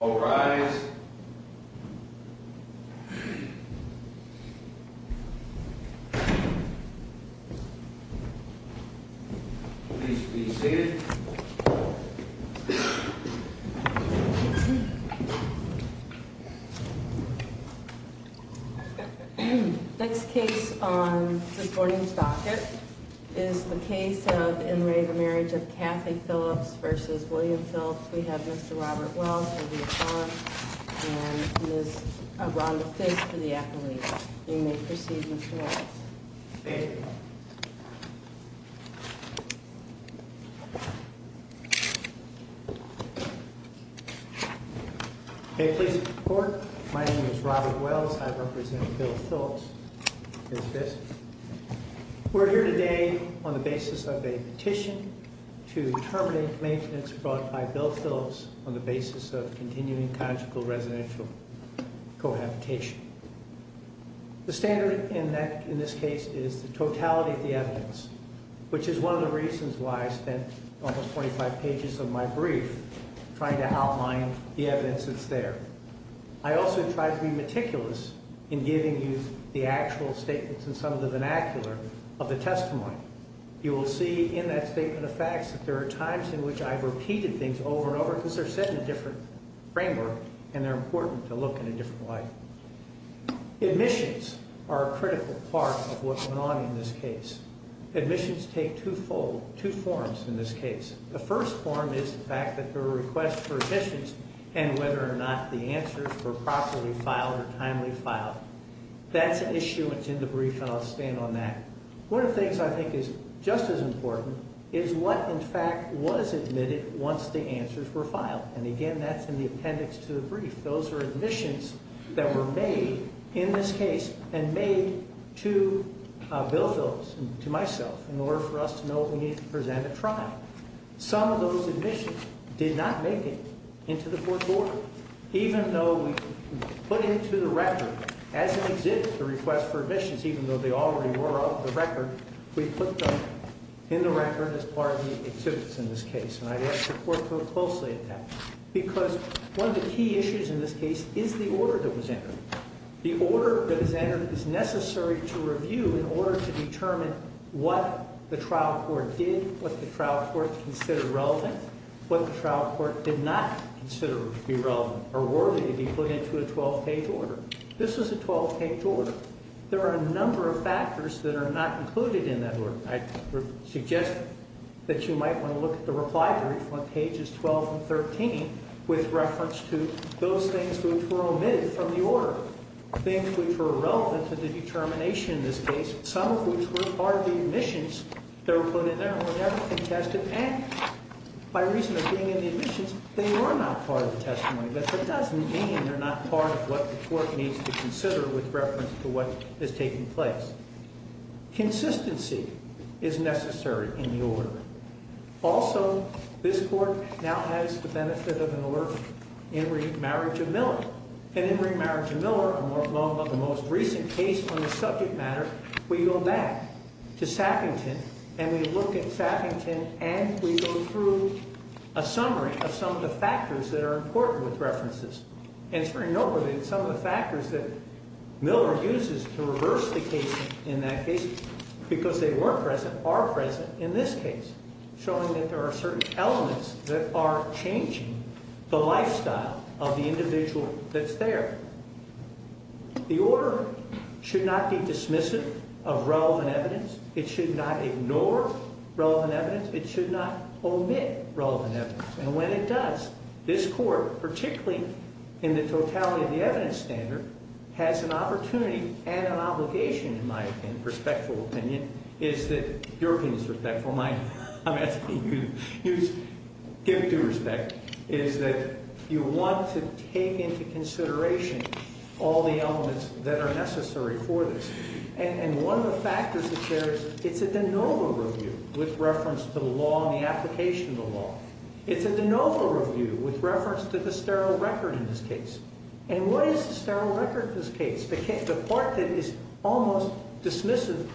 All rise. Please be seated. Next case on this morning's docket is the case of in Ray, the marriage of Kathy Phillips versus William Phillips. We have Mr Robert. Well, for the athlete. Hey, please. My name is Robert Wells. I represent Bill Phillips. We're here today on the basis of a petition to terminate maintenance brought by Bill Phillips on the basis of continuing conjugal residential cohabitation. The standard in neck in this case is the totality of the evidence, which is one of the reasons why I spent almost 25 pages of my brief trying to outline the evidence. It's there. I also tried to be meticulous in giving you the actual statements and some of the vernacular of the testimony. You will see in that statement of facts that there are times in which I've repeated things over and over because they're set in a different framework and they're important to look in a different light. Admissions are a critical part of what's going on in this case. Admissions take two fold, two forms. In this case, the first form is the fact that the request for admissions and whether or not the answers were properly filed or timely filed. That's an issue. It's in the brief. I'll stand on that. One of the things I think is just as important is what, in fact, was admitted once the answers were filed. And again, that's in the appendix to the brief. Those are admissions that were made in this case and made to Bill Phillips and to myself in order for us to know we need to present a trial. Some of those admissions did not make it into the court order, even though we put into the record as an exhibit the request for admissions, even though they already were on the record. We put them in the record as part of the exhibits in this case. And I ask the court to look closely at that because one of the key issues in this case is the order that was entered. The order that is entered is necessary to review in order to determine what the trial court did, what the trial court considered relevant, what the trial court did not consider to be relevant or worthy to be put into a 12-page order. This is a 12-page order. There are a number of factors that are not included in that order. I suggest that you might want to look at the reply brief on pages 12 and 13 with reference to those things which were omitted from the order, things which were relevant to the determination in this case, some of which were part of the admissions that were put in there and were never contested. And by reason of being in the admissions, they were not part of the testimony. But that doesn't mean they're not part of what the court needs to consider with reference to what is taking place. Consistency is necessary in the order. Also, this court now has the benefit of an order in remarriage of Miller. In remarriage of Miller, the most recent case on the subject matter, we go back to Saffington and we look at Saffington and we go through a summary of some of the factors that are important with references. And it's very noteworthy that some of the factors that Miller uses to reverse the case in that case, because they weren't present, are present in this case, showing that there are certain elements that are changing the lifestyle of the individual that's there. The order should not be dismissive of relevant evidence. It should not ignore relevant evidence. It should not omit relevant evidence. And when it does, this court, particularly in the totality of the evidence standard, has an opportunity and an obligation, in my respectful opinion, is that, your opinion is respectful, I'm asking you to give due respect, is that you want to take into consideration all the elements that are necessary for this. And one of the factors that there is, it's a de novo review with reference to the law and the application of the law. It's a de novo review with reference to the sterile record in this case. And what is the sterile record in this case? The part that is almost dismissive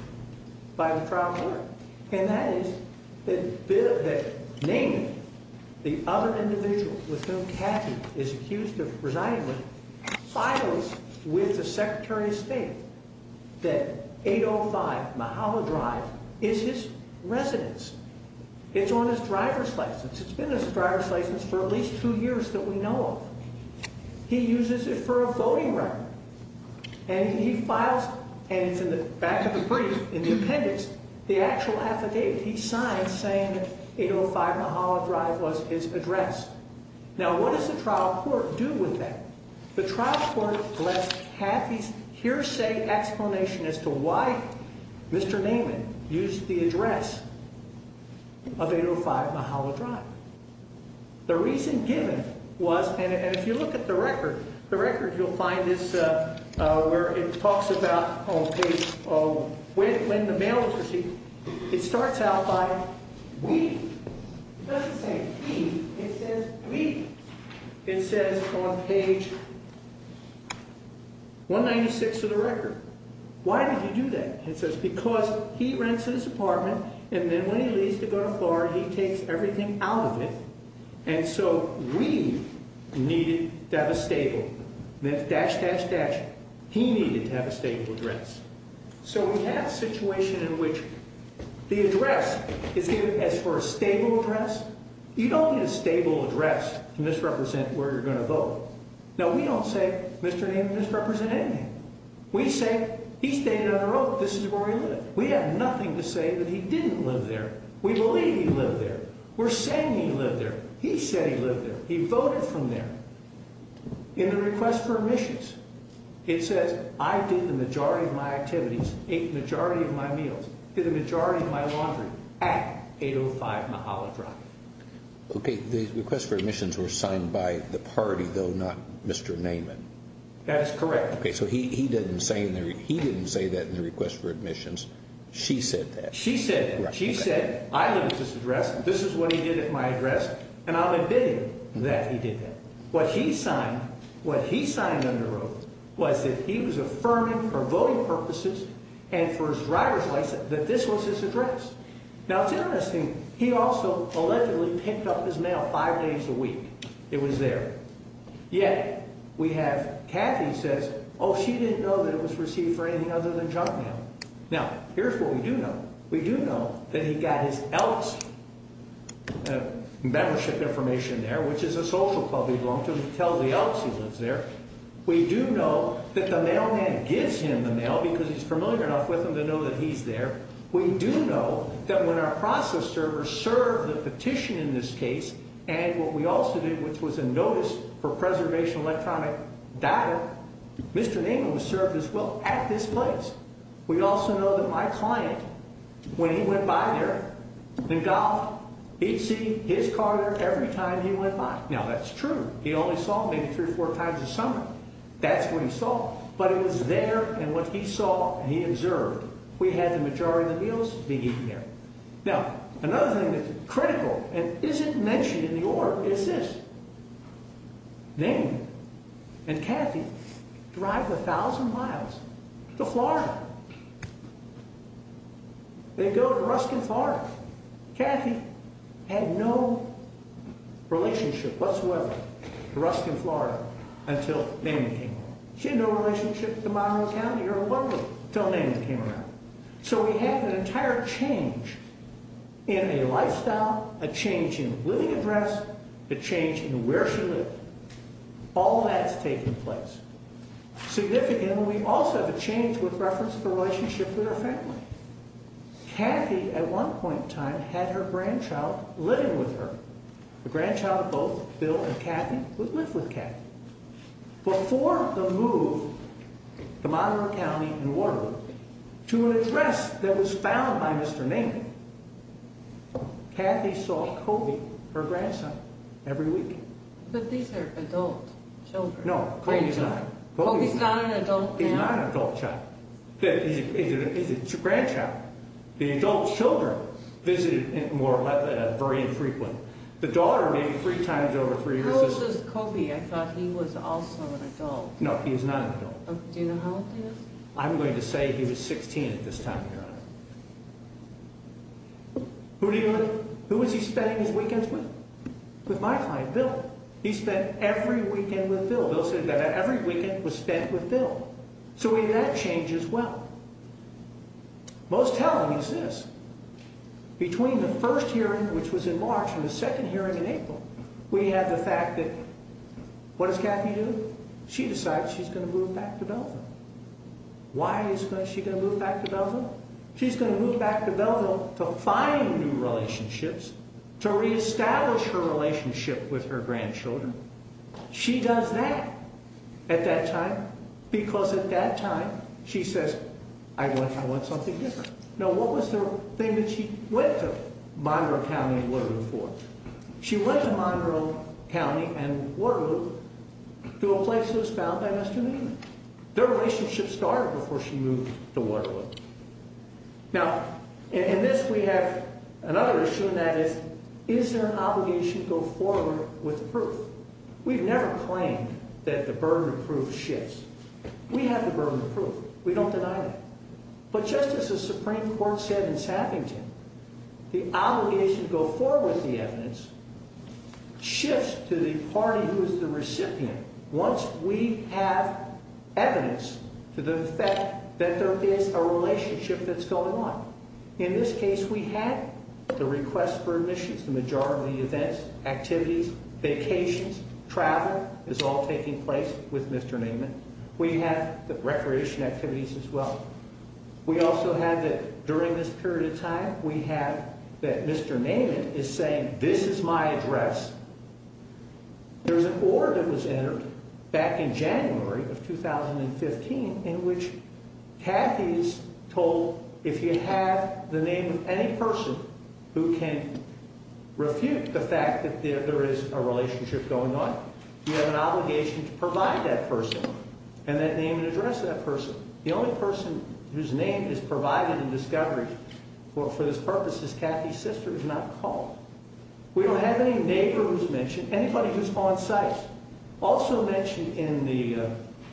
by the trial court. And that is that Naney, the other individual with whom Cathy is accused of resigning with, files with the Secretary of State that 805 Mahala Drive is his residence. It's on his driver's license. It's been his driver's license for at least two years that we know of. He uses it for a voting right. And he files, and it's in the back of the brief, in the appendix, the actual affidavit he signed saying that 805 Mahala Drive was his address. Now, what does the trial court do with that? The trial court has Cathy's hearsay explanation as to why Mr. Naney used the address of 805 Mahala Drive. The reason given was, and if you look at the record, the record you'll find is where it talks about on page, when the mail was received, it starts out by we. It doesn't say he, it says we. It says on page 196 of the record. Why did he do that? It says because he rents this apartment, and then when he leaves to go to Florida, he takes everything out of it. And so we needed to have a stable, dash, dash, dash. He needed to have a stable address. So we have a situation in which the address is given as for a stable address. You don't need a stable address to misrepresent where you're going to vote. Now, we don't say Mr. Naney misrepresented anything. We say he stayed on the road. This is where he lived. We have nothing to say that he didn't live there. We believe he lived there. We're saying he lived there. He said he lived there. He voted from there. In the request for admissions, it says I did the majority of my activities, ate the majority of my meals, did the majority of my laundry at 805 Mahala Drive. Okay. The request for admissions were signed by the party, though not Mr. Neyman. That is correct. Okay. So he didn't say he didn't say that in the request for admissions. She said that. She said, she said, I live at this address. This is what he did at my address, and I'll admit that he did that. What he signed, what he signed on the road was that he was affirming for voting purposes and for his driver's license that this was his address. Now, it's interesting. He also allegedly picked up his mail five days a week. It was there. Yet we have Kathy says, oh, she didn't know that it was received for anything other than junk mail. Now, here's what we do know. We do know that he got his else membership information there, which is a social club. We long to tell the else he lives there. We do know that the mailman gives him the mail because he's familiar enough with him to know that he's there. We do know that when our process servers serve the petition in this case and what we also did, which was a notice for preservation electronic data, Mr. Nagle was served as well at this place. We also know that my client, when he went by there, the golf, he'd see his car there every time he went by. Now, that's true. He only saw maybe three or four times a summer. That's what he saw. But it was there. And what he saw, he observed. We had the majority of the meals being eaten there. Now, another thing that's critical and isn't mentioned in the order is this name and Kathy drive a thousand miles to Florida. They go to Ruskin, Florida. Kathy had no relationship whatsoever. Ruskin, Florida. Until they came. She had no relationship tomorrow. County. You're a woman. Don't name the camera. So we have an entire change in a lifestyle, a change in living address, a change in where she lived. All that's taking place. Significant. We also have a change with reference to the relationship with her family. Kathy, at one point in time, had her grandchild living with her. The grandchild of both Bill and Kathy would live with Kathy. But for the move, the Montero County in Waterloo to an address that was found by Mr. Namie. Kathy saw Kobe, her grandson, every week. But these are adult children. No, he's not an adult. He's not an adult child. It's a grandchild. The adult children visited more very infrequent. The daughter made three times over three years. This is Kobe. I thought he was also an adult. No, he is not. Do you know how? I'm going to say he was 16 at this time. Who do you look? Who is he spending his weekends with? With my client Bill. He spent every weekend with Bill. Bill said that every weekend was spent with Bill. So we had change as well. Most telling is this. Between the first hearing, which was in March, and the second hearing in April, we had the fact that, what does Kathy do? She decides she's going to move back to Belleville. Why is she going to move back to Belleville? She's going to move back to Belleville to find new relationships, to reestablish her relationship with her grandchildren. She does that at that time. Because at that time, she says, I want something different. Now, what was the thing that she went to Monroe County and Waterloo for? She went to Monroe County and Waterloo to a place that was found by Mr. Newman. Their relationship started before she moved to Waterloo. Now, in this, we have another issue, and that is, is there an obligation to go forward with proof? We've never claimed that the burden of proof shifts. We have the burden of proof. We don't deny that. But just as the Supreme Court said in Sappington, the obligation to go forward with the evidence shifts to the party who is the recipient, once we have evidence to the effect that there is a relationship that's going on. In this case, we had the request for admissions, the majority of the events, activities, vacations, travel, is all taking place with Mr. Newman. We have the recreation activities as well. We also have, during this period of time, we have that Mr. Newman is saying, this is my address. There was an order that was entered back in January of 2015 in which Kathy is told, if you have the name of any person who can refute the fact that there is a relationship going on, you have an obligation to provide that person and that name and address of that person. The only person whose name is provided in discovery for this purpose is Kathy's sister, is not called. We don't have any neighbor who's mentioned, anybody who's on site. Also mentioned in the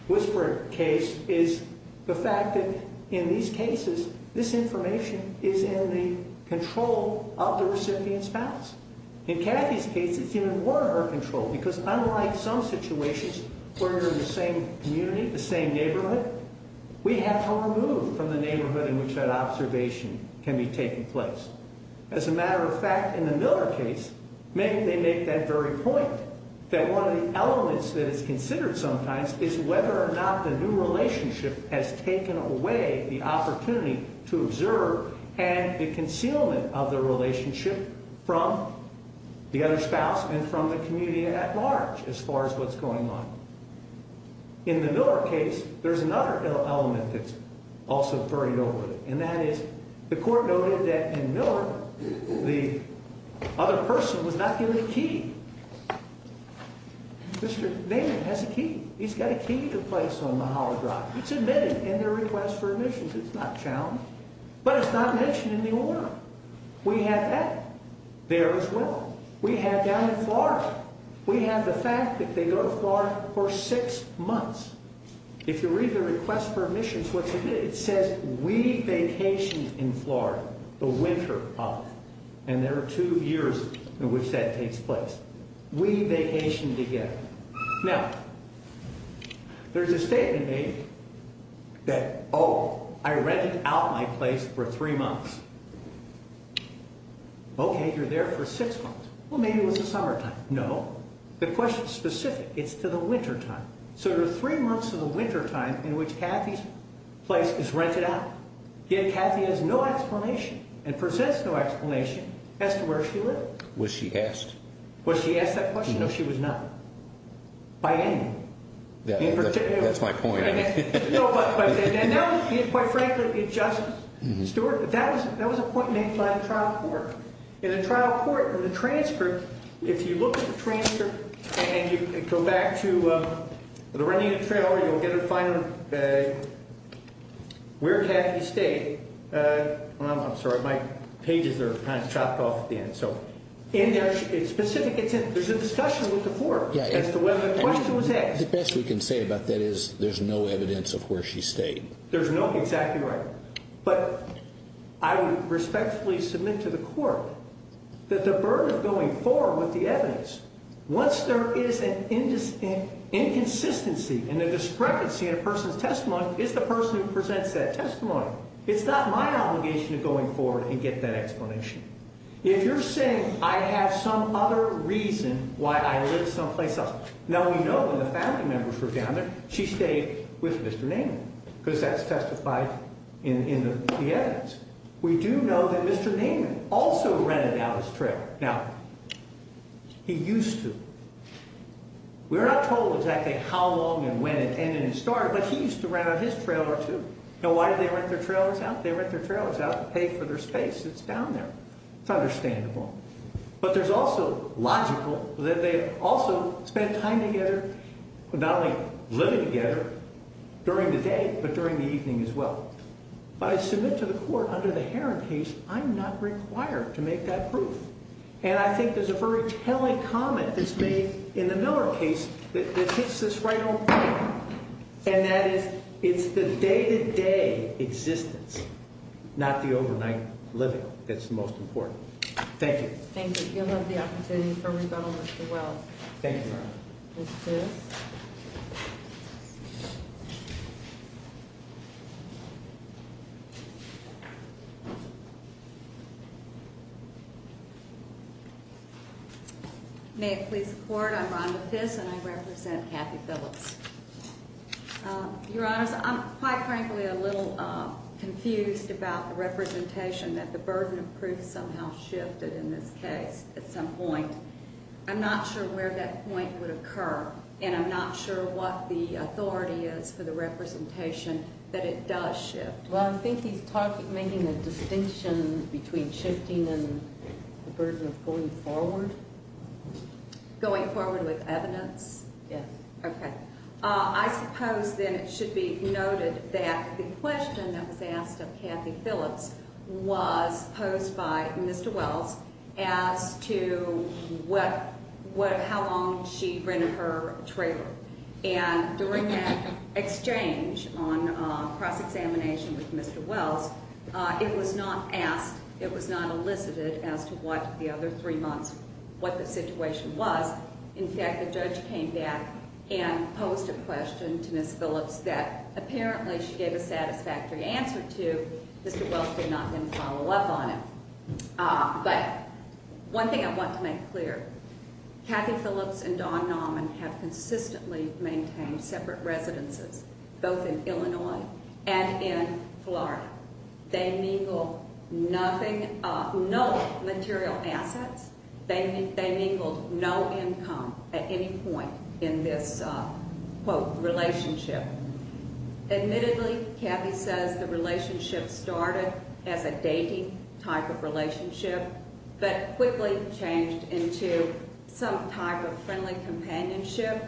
Whisper case is the fact that in these cases, this information is in the control of the recipient's spouse. In Kathy's case, it's even more in her control because unlike some situations where you're in the same community, the same neighborhood, we have her removed from the neighborhood in which that observation can be taking place. As a matter of fact, in the Miller case, maybe they make that very point, that one of the elements that is considered sometimes is whether or not the new relationship has taken away the opportunity to observe and the concealment of the relationship from the other spouse and from the community at large as far as what's going on. In the Miller case, there's another element that's also furried over, and that is the Miller, the other person, was not given a key. Mr. Naaman has a key. He's got a key to place on Mahalo Drive. It's admitted in their request for admissions. It's not challenged, but it's not mentioned in the order. We have that there as well. We have that in Florida. We have the fact that they go to Florida for six months. If you read the request for admissions, it says, we vacationed in Florida the winter of, and there are two years in which that takes place. We vacationed together. Now, there's a statement made that, oh, I rented out my place for three months. Okay, you're there for six months. Well, maybe it was the summertime. No, the question's specific. It's to the wintertime. So there are three months of the wintertime in which Kathy's place is rented out. Yet Kathy has no explanation and presents no explanation as to where she lived. Was she asked? Was she asked that question? No, she was not. By anyone. That's my point. No, but quite frankly, Justice Stewart, that was a point made by the trial court. In the trial court, in the transcript, if you look at the transcript and you go back to the renegade trailer, you'll get to find where Kathy stayed. I'm sorry, my pages are kind of chopped off at the end. In there, it's specific. There's a discussion with the court as to whether the question was asked. The best we can say about that is there's no evidence of where she stayed. There's no, exactly right. But I would respectfully submit to the court that the burden of going forward with the evidence, once there is an inconsistency and a discrepancy in a person's testimony, it's the person who presents that testimony. It's not my obligation to go forward and get that explanation. If you're saying I have some other reason why I live someplace else. Now, we know when the family members were down there, she stayed with Mr. Naiman. Because that's testified in the evidence. We do know that Mr. Naiman also rented out his trailer. Now, he used to. We're not told exactly how long and when it ended and started, but he used to rent out his trailer, too. Now, why did they rent their trailers out? They rent their trailers out to pay for their space that's down there. It's understandable. But there's also logical that they also spent time together, not only living together during the day, but during the evening as well. But I submit to the court under the Heron case, I'm not required to make that proof. And I think there's a very telling comment that's made in the Miller case that hits this right on point. And that is, it's the day-to-day existence, not the overnight living, that's the most important. Thank you. Thank you. You'll have the opportunity for rebuttal, Mr. Wells. Thank you, Your Honor. Mr. Tibbs. May it please the Court, I'm Rhonda Fiss and I represent Kathy Phillips. Your Honor, I'm quite frankly a little confused about the representation that the burden of proof somehow shifted in this case at some point. I'm not sure where that point would occur, and I'm not sure what the authority is for the representation that it does shift. Well, I think he's making a distinction between shifting and the burden of going forward. Going forward with evidence? Yes. Okay. I suppose then it should be noted that the question that was asked of Kathy Phillips was posed by Mr. Wells as to how long she rented her trailer. And during that exchange on cross-examination with Mr. Wells, it was not asked, it was not elicited as to what the other three months, what the situation was. In fact, the judge came back and posed a question to Ms. Phillips that apparently she gave a satisfactory answer to. Mr. Wells did not then follow up on it. But one thing I want to make clear, Kathy Phillips and Don Nauman have consistently maintained separate residences, both in Illinois and in Florida. They mingled nothing, no material assets. They mingled no income at any point in this, quote, relationship. Admittedly, Kathy says the relationship started as a dating type of relationship, but quickly changed into some type of friendly companionship.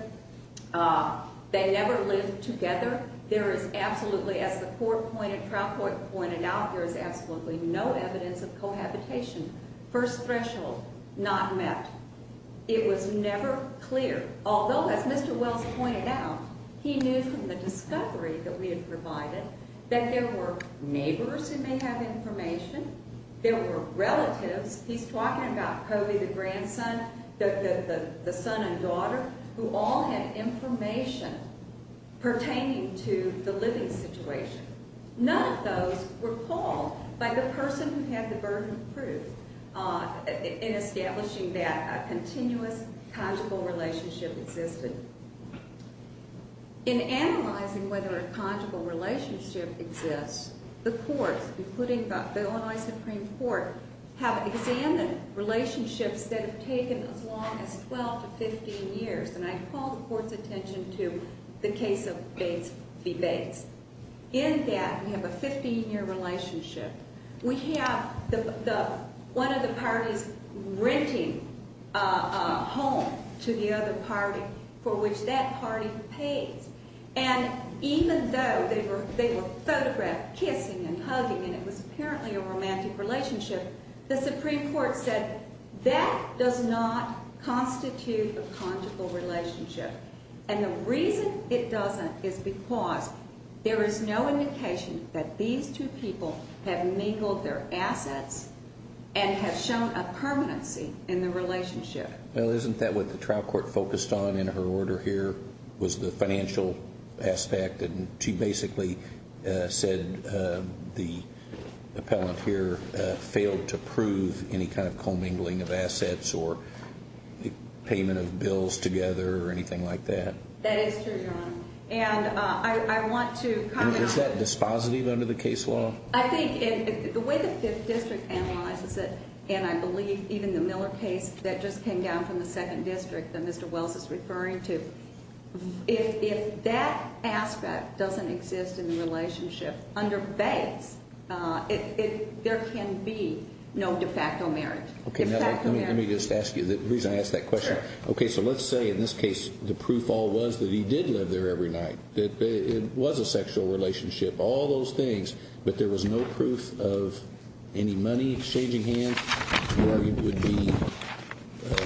They never lived together. There is absolutely, as the court pointed, trial court pointed out, there is absolutely no evidence of cohabitation. First threshold not met. It was never clear, although as Mr. Wells pointed out, he knew from the discovery that we had provided that there were neighbors who may have information, there were relatives, he's talking about Kobe, the grandson, the son and daughter, who all had information pertaining to the living situation. None of those were called by the person who had the burden of proof in establishing that a continuous conjugal relationship existed. In analyzing whether a conjugal relationship exists, the courts, including the Illinois Supreme Court, have examined relationships that have taken as long as 12 to 15 years, and I call the court's attention to the case of Bates v. Bates. In that, we have a 15-year relationship. We have one of the parties renting a home to the other party for which that party pays. And even though they were photographed kissing and hugging, and it was apparently a romantic relationship, the Supreme Court said that does not constitute a conjugal relationship. And the reason it doesn't is because there is no indication that these two people have mingled their assets and have shown a permanency in the relationship. Well, isn't that what the trial court focused on in her order here, was the financial aspect, and she basically said the appellant here failed to prove any kind of commingling of assets or payment of bills together or anything like that. That is true, Your Honor. And I want to comment on... Is that dispositive under the case law? I think the way the Fifth District analyzes it, and I believe even the Miller case that just came down from the Second District that Mr. Wells is referring to, if that aspect doesn't exist in the relationship under banks, there can be no de facto marriage. Okay, now let me just ask you the reason I asked that question. Sure. Okay, so let's say in this case the proof all was that he did live there every night, that it was a sexual relationship, all those things, but there was no proof of any money exchanging hands, your argument would be...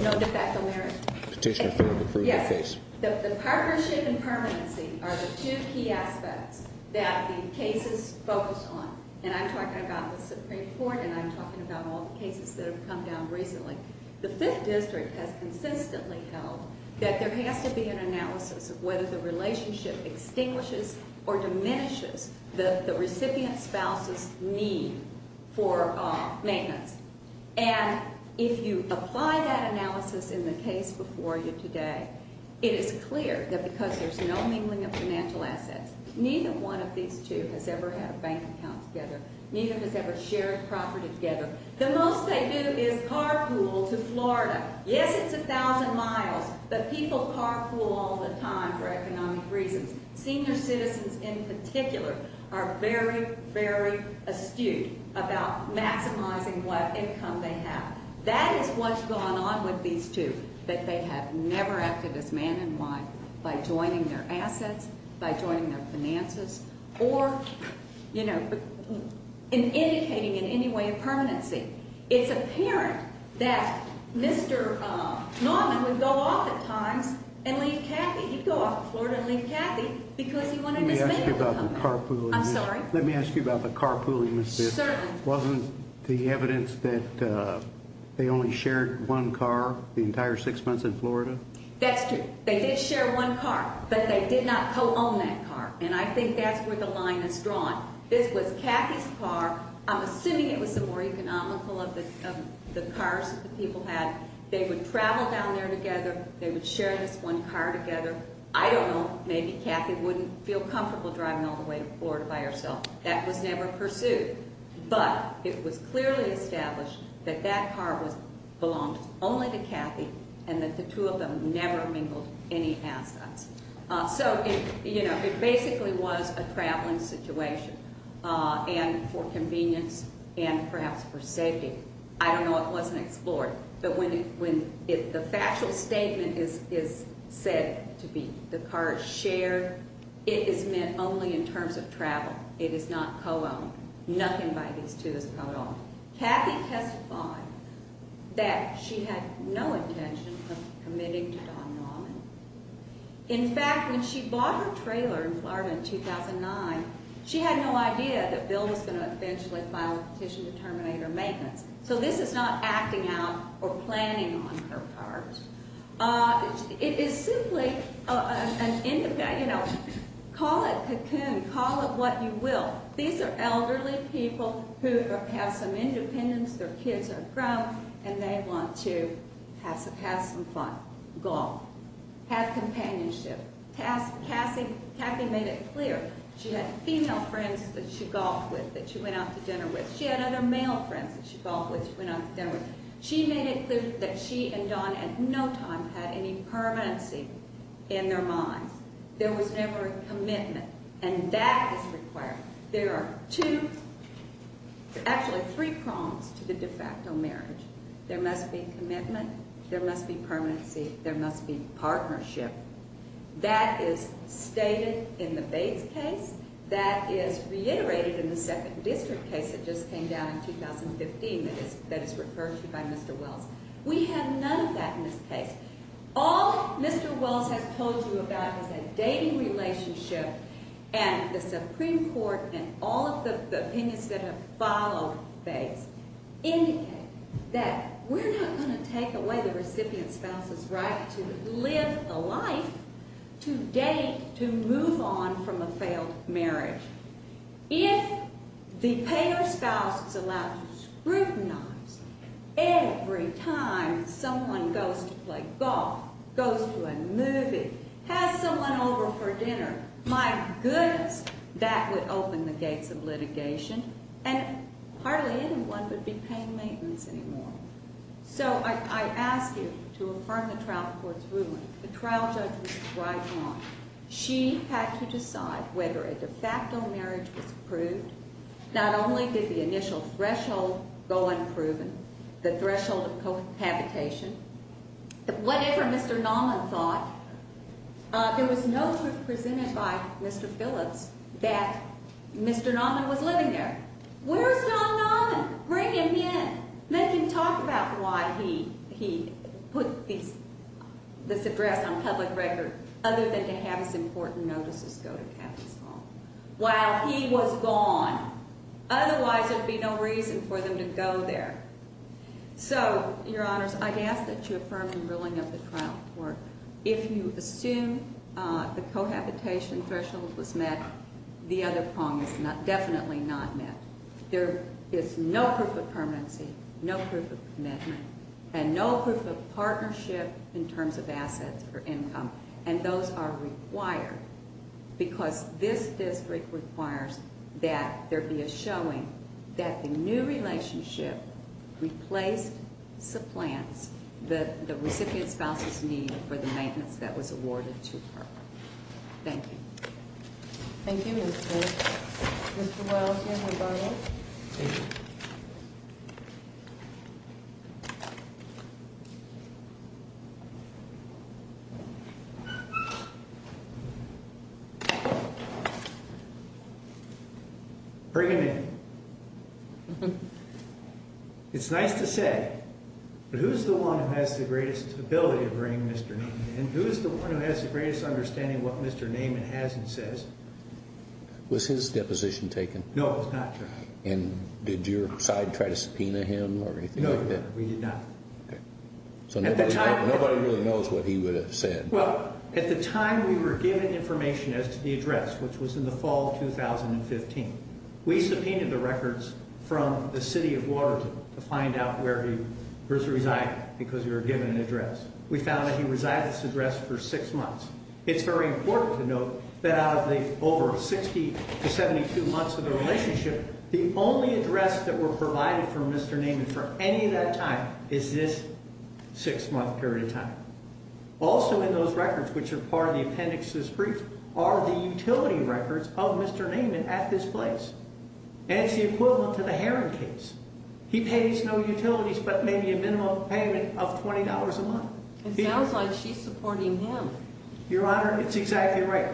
No de facto marriage. Petitioner failed to prove the case. Yes. The partnership and permanency are the two key aspects that the cases focus on, and I'm talking about the Supreme Court and I'm talking about all the cases that have come down recently. The Fifth District has consistently held that there has to be an analysis of whether the relationship extinguishes or diminishes the recipient spouse's need for maintenance. And if you apply that analysis in the case before you today, it is clear that because there's no mingling of financial assets, neither one of these two has ever had a bank account together, neither has ever shared property together. The most they do is carpool to Florida. Yes, it's a thousand miles, but people carpool all the time for economic reasons. Senior citizens in particular are very, very astute about maximizing what income they have. That is what's going on with these two, that they have never acted as man and wife by joining their assets, by joining their finances, or, you know, in indicating in any way a permanency. It's apparent that Mr. Norman would go off at times and leave Kathy. He'd go off to Florida and leave Kathy because he wanted his medical company. I'm sorry? Let me ask you about the carpooling. Wasn't the evidence that they only shared one car the entire six months in Florida? That's true. They did share one car, but they did not co-own that car, and I think that's where the line is drawn. This was Kathy's car. I'm assuming it was the more economical of the cars that the people had. They would travel down there together. They would share this one car together. I don't know. Maybe Kathy wouldn't feel comfortable driving all the way to Florida by herself. That was never pursued. But it was clearly established that that car belonged only to Kathy and that the two of them never mingled any assets. So, you know, it basically was a traveling situation and for convenience and perhaps for safety. I don't know. It wasn't explored. But when the factual statement is said to be the car is shared, it is meant only in terms of travel. It is not co-owned. Nothing by these two is co-owned. Kathy testified that she had no intention of committing to Don Norman. In fact, when she bought her trailer in Florida in 2009, she had no idea that Bill was going to eventually file a petition to terminate her maintenance. So this is not acting out or planning on her part. It is simply an end of day, you know, call it cocoon, call it what you will. These are elderly people who have some independence, their kids are grown, and they want to have some fun, golf, have companionship. Kathy made it clear she had female friends that she golfed with, that she went out to dinner with. She had other male friends that she golfed with, she went out to dinner with. She made it clear that she and Don at no time had any permanency in their minds. There was never a commitment. And that is required. There are two, actually three prongs to the de facto marriage. There must be commitment, there must be permanency, there must be partnership. That is stated in the Bates case, that is reiterated in the Second District case that just came down in 2015 that is referred to by Mr. Wells. We have none of that in this case. All Mr. Wells has told you about is a dating relationship and the Supreme Court and all of the opinions that have followed Bates indicate that we're not going to take away the recipient spouse's right to live a life, to date, to move on from a failed marriage. If the payer spouse is allowed to scrutinize every time someone goes to play golf, goes to a movie, has someone over for dinner, by goodness, that would open the gates of litigation and hardly anyone would be paying maintenance anymore. So I ask you to affirm the trial court's ruling. The trial judge was right on. She had to decide whether a de facto marriage was approved. Not only did the initial threshold go unproven, the threshold of cohabitation, whatever Mr. Nauman thought. There was no proof presented by Mr. Phillips that Mr. Nauman was living there. Where's John Nauman? Bring him in. Let him talk about why he put this address on public record other than to have his important notices go to Captain Small, while he was gone. Otherwise, there'd be no reason for them to go there. So, Your Honors, I'd ask that you affirm the ruling of the trial court if you assume the cohabitation threshold was met, the other prong is definitely not met. There is no proof of permanency, no proof of commitment, and no proof of partnership in terms of assets or income. And those are required because this district requires that there be a showing that the new relationship replaced supplants, the recipient spouse's need for the maintenance that was awarded to her. Thank you. Thank you, Ms. Phillips. Mr. Wells, Mr. Bartlett. Thank you. Bring him in. It's nice to say, but who's the one who has the greatest ability to bring Mr. Naiman in? Who's the one who has the greatest understanding of what Mr. Naiman has and says? Was his deposition taken? No, it was not taken. And did your side try to subpoena him or anything like that? No, we did not. So nobody really knows what he would have said. Well, at the time we were given information as to the address, which was in the fall of 2015, we subpoenaed the records from the city of Waterloo for his residing, because we were given an address. We found that he resided at this address for six months. It's very important to note that out of the over 60 to 72 months of the relationship, the only address that were provided from Mr. Naiman for any of that time is this six-month period of time. Also in those records, which are part of the appendix's brief, are the utility records of Mr. Naiman at this place. And it's the equivalent to the Heron case. He pays no utilities, but maybe a minimum payment of $20 a month. It sounds like she's supporting him. Your Honor, it's exactly right.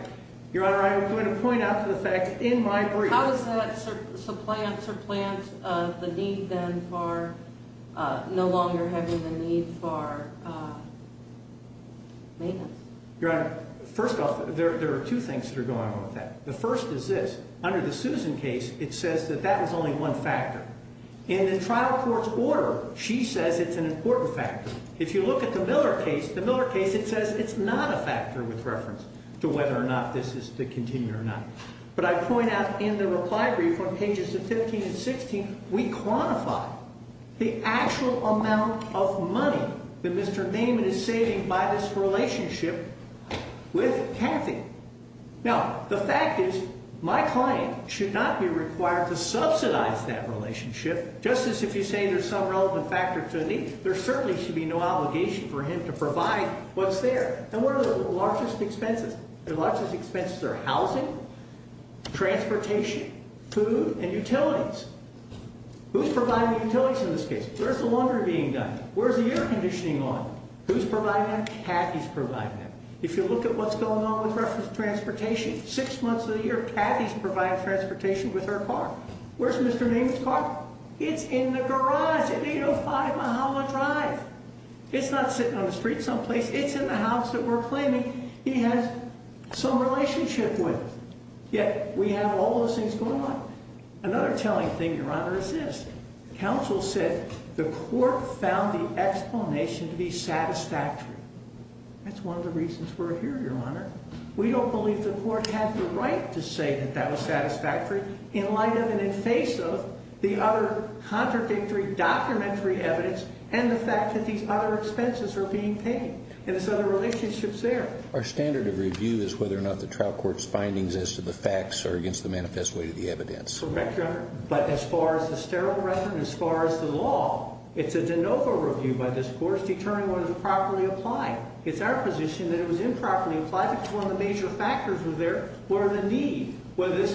Your Honor, I'm going to point out the fact that in my brief... How does that supplant the need then for no longer having the need for maintenance? Your Honor, first off, there are two things that are going on with that. The first is this. Under the Susan case, in the trial court's order, she says it's an important factor. If you look at the Miller case, the Miller case, it says it's not a factor with reference to whether or not this is to continue or not. But I point out in the reply brief on pages 15 and 16, we quantify the actual amount of money that Mr. Naiman is saving by this relationship with Kathy. Now, the fact is, my client should not be required to subsidize that relationship. Just as if you say there's some relevant factor to the need, there certainly should be no obligation for him to provide what's there. And what are the largest expenses? The largest expenses are housing, transportation, food, and utilities. Who's providing the utilities in this case? Where's the laundry being done? Where's the air conditioning on? Who's providing them? Kathy's providing them. If you look at what's going on in terms of transportation, six months of the year, Kathy's providing transportation with her car. Where's Mr. Naiman's car? It's in the garage at 805 Mahala Drive. It's not sitting on the street someplace. It's in the house that we're claiming he has some relationship with. Yet we have all those things going on. Another telling thing, Your Honor, is this. Counsel said the court found the explanation to be satisfactory. That's one of the reasons we're here, we don't believe the court had the right to say that that was satisfactory in light of and in face of the other contradictory documentary evidence and the fact that these other expenses are being paid. And there's other relationships there. Our standard of review is whether or not the trial court's findings as to the facts are against the manifest way to the evidence. Correct, Your Honor. But as far as the sterile record, as far as the law, it's a de novo review by this court that was determining whether it was properly applied. It's our position that it was improperly applied because one of the major factors there were the need, whether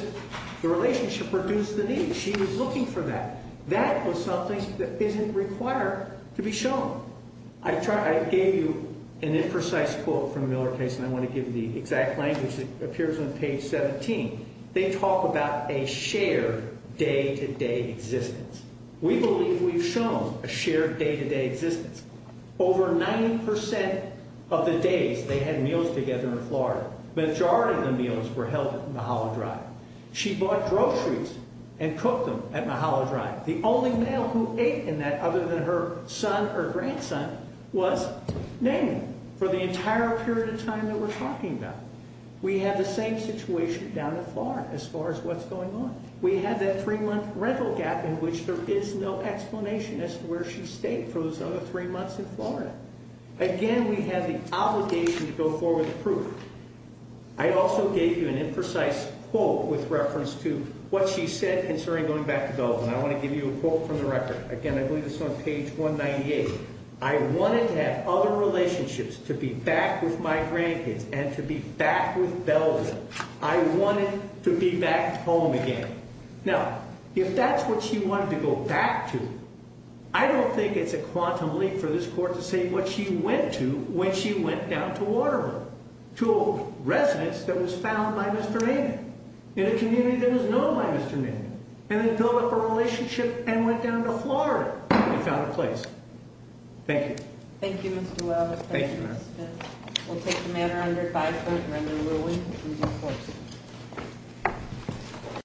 the relationship reduced the need. She was looking for that. That was something that isn't required to be shown. I gave you an imprecise quote from the Miller case, and I want to give you the exact language that appears on page 17. They talk about a shared day-to-day existence. We believe we've shown a shared day-to-day existence. Over 90% of the days they had meals together in Florida, the majority of the meals were held at Mahalo Drive. She bought groceries and cooked them at Mahalo Drive. The only male who ate in that other than her son or grandson was Namie for the entire period of time that we're talking about. We had the same situation down in Florida as far as what's going on. We had that three-month rental gap in which there is no explanation as to where she stayed for those other three months in Florida. Again, we have the obligation to go forward with proof. I also gave you an imprecise quote with reference to what she said concerning going back to Belvin. I want to give you a quote from the record. Again, I believe it's on page 198. I wanted to have other relationships to be back with my grandkids and to be back with Belvin. I wanted to be back home again. Now, if that's what she wanted to go back to, I don't think it's a quantum leap for this court to say what she went to when she went down to Waterloo to a residence that was found by Mr. Namie in a community that was known by Mr. Namie and then built up a relationship and went down to Florida and found a place. Thank you. Thank you, Mr. Weld. We'll take the matter under advice of the member, and we'll end with these quotes.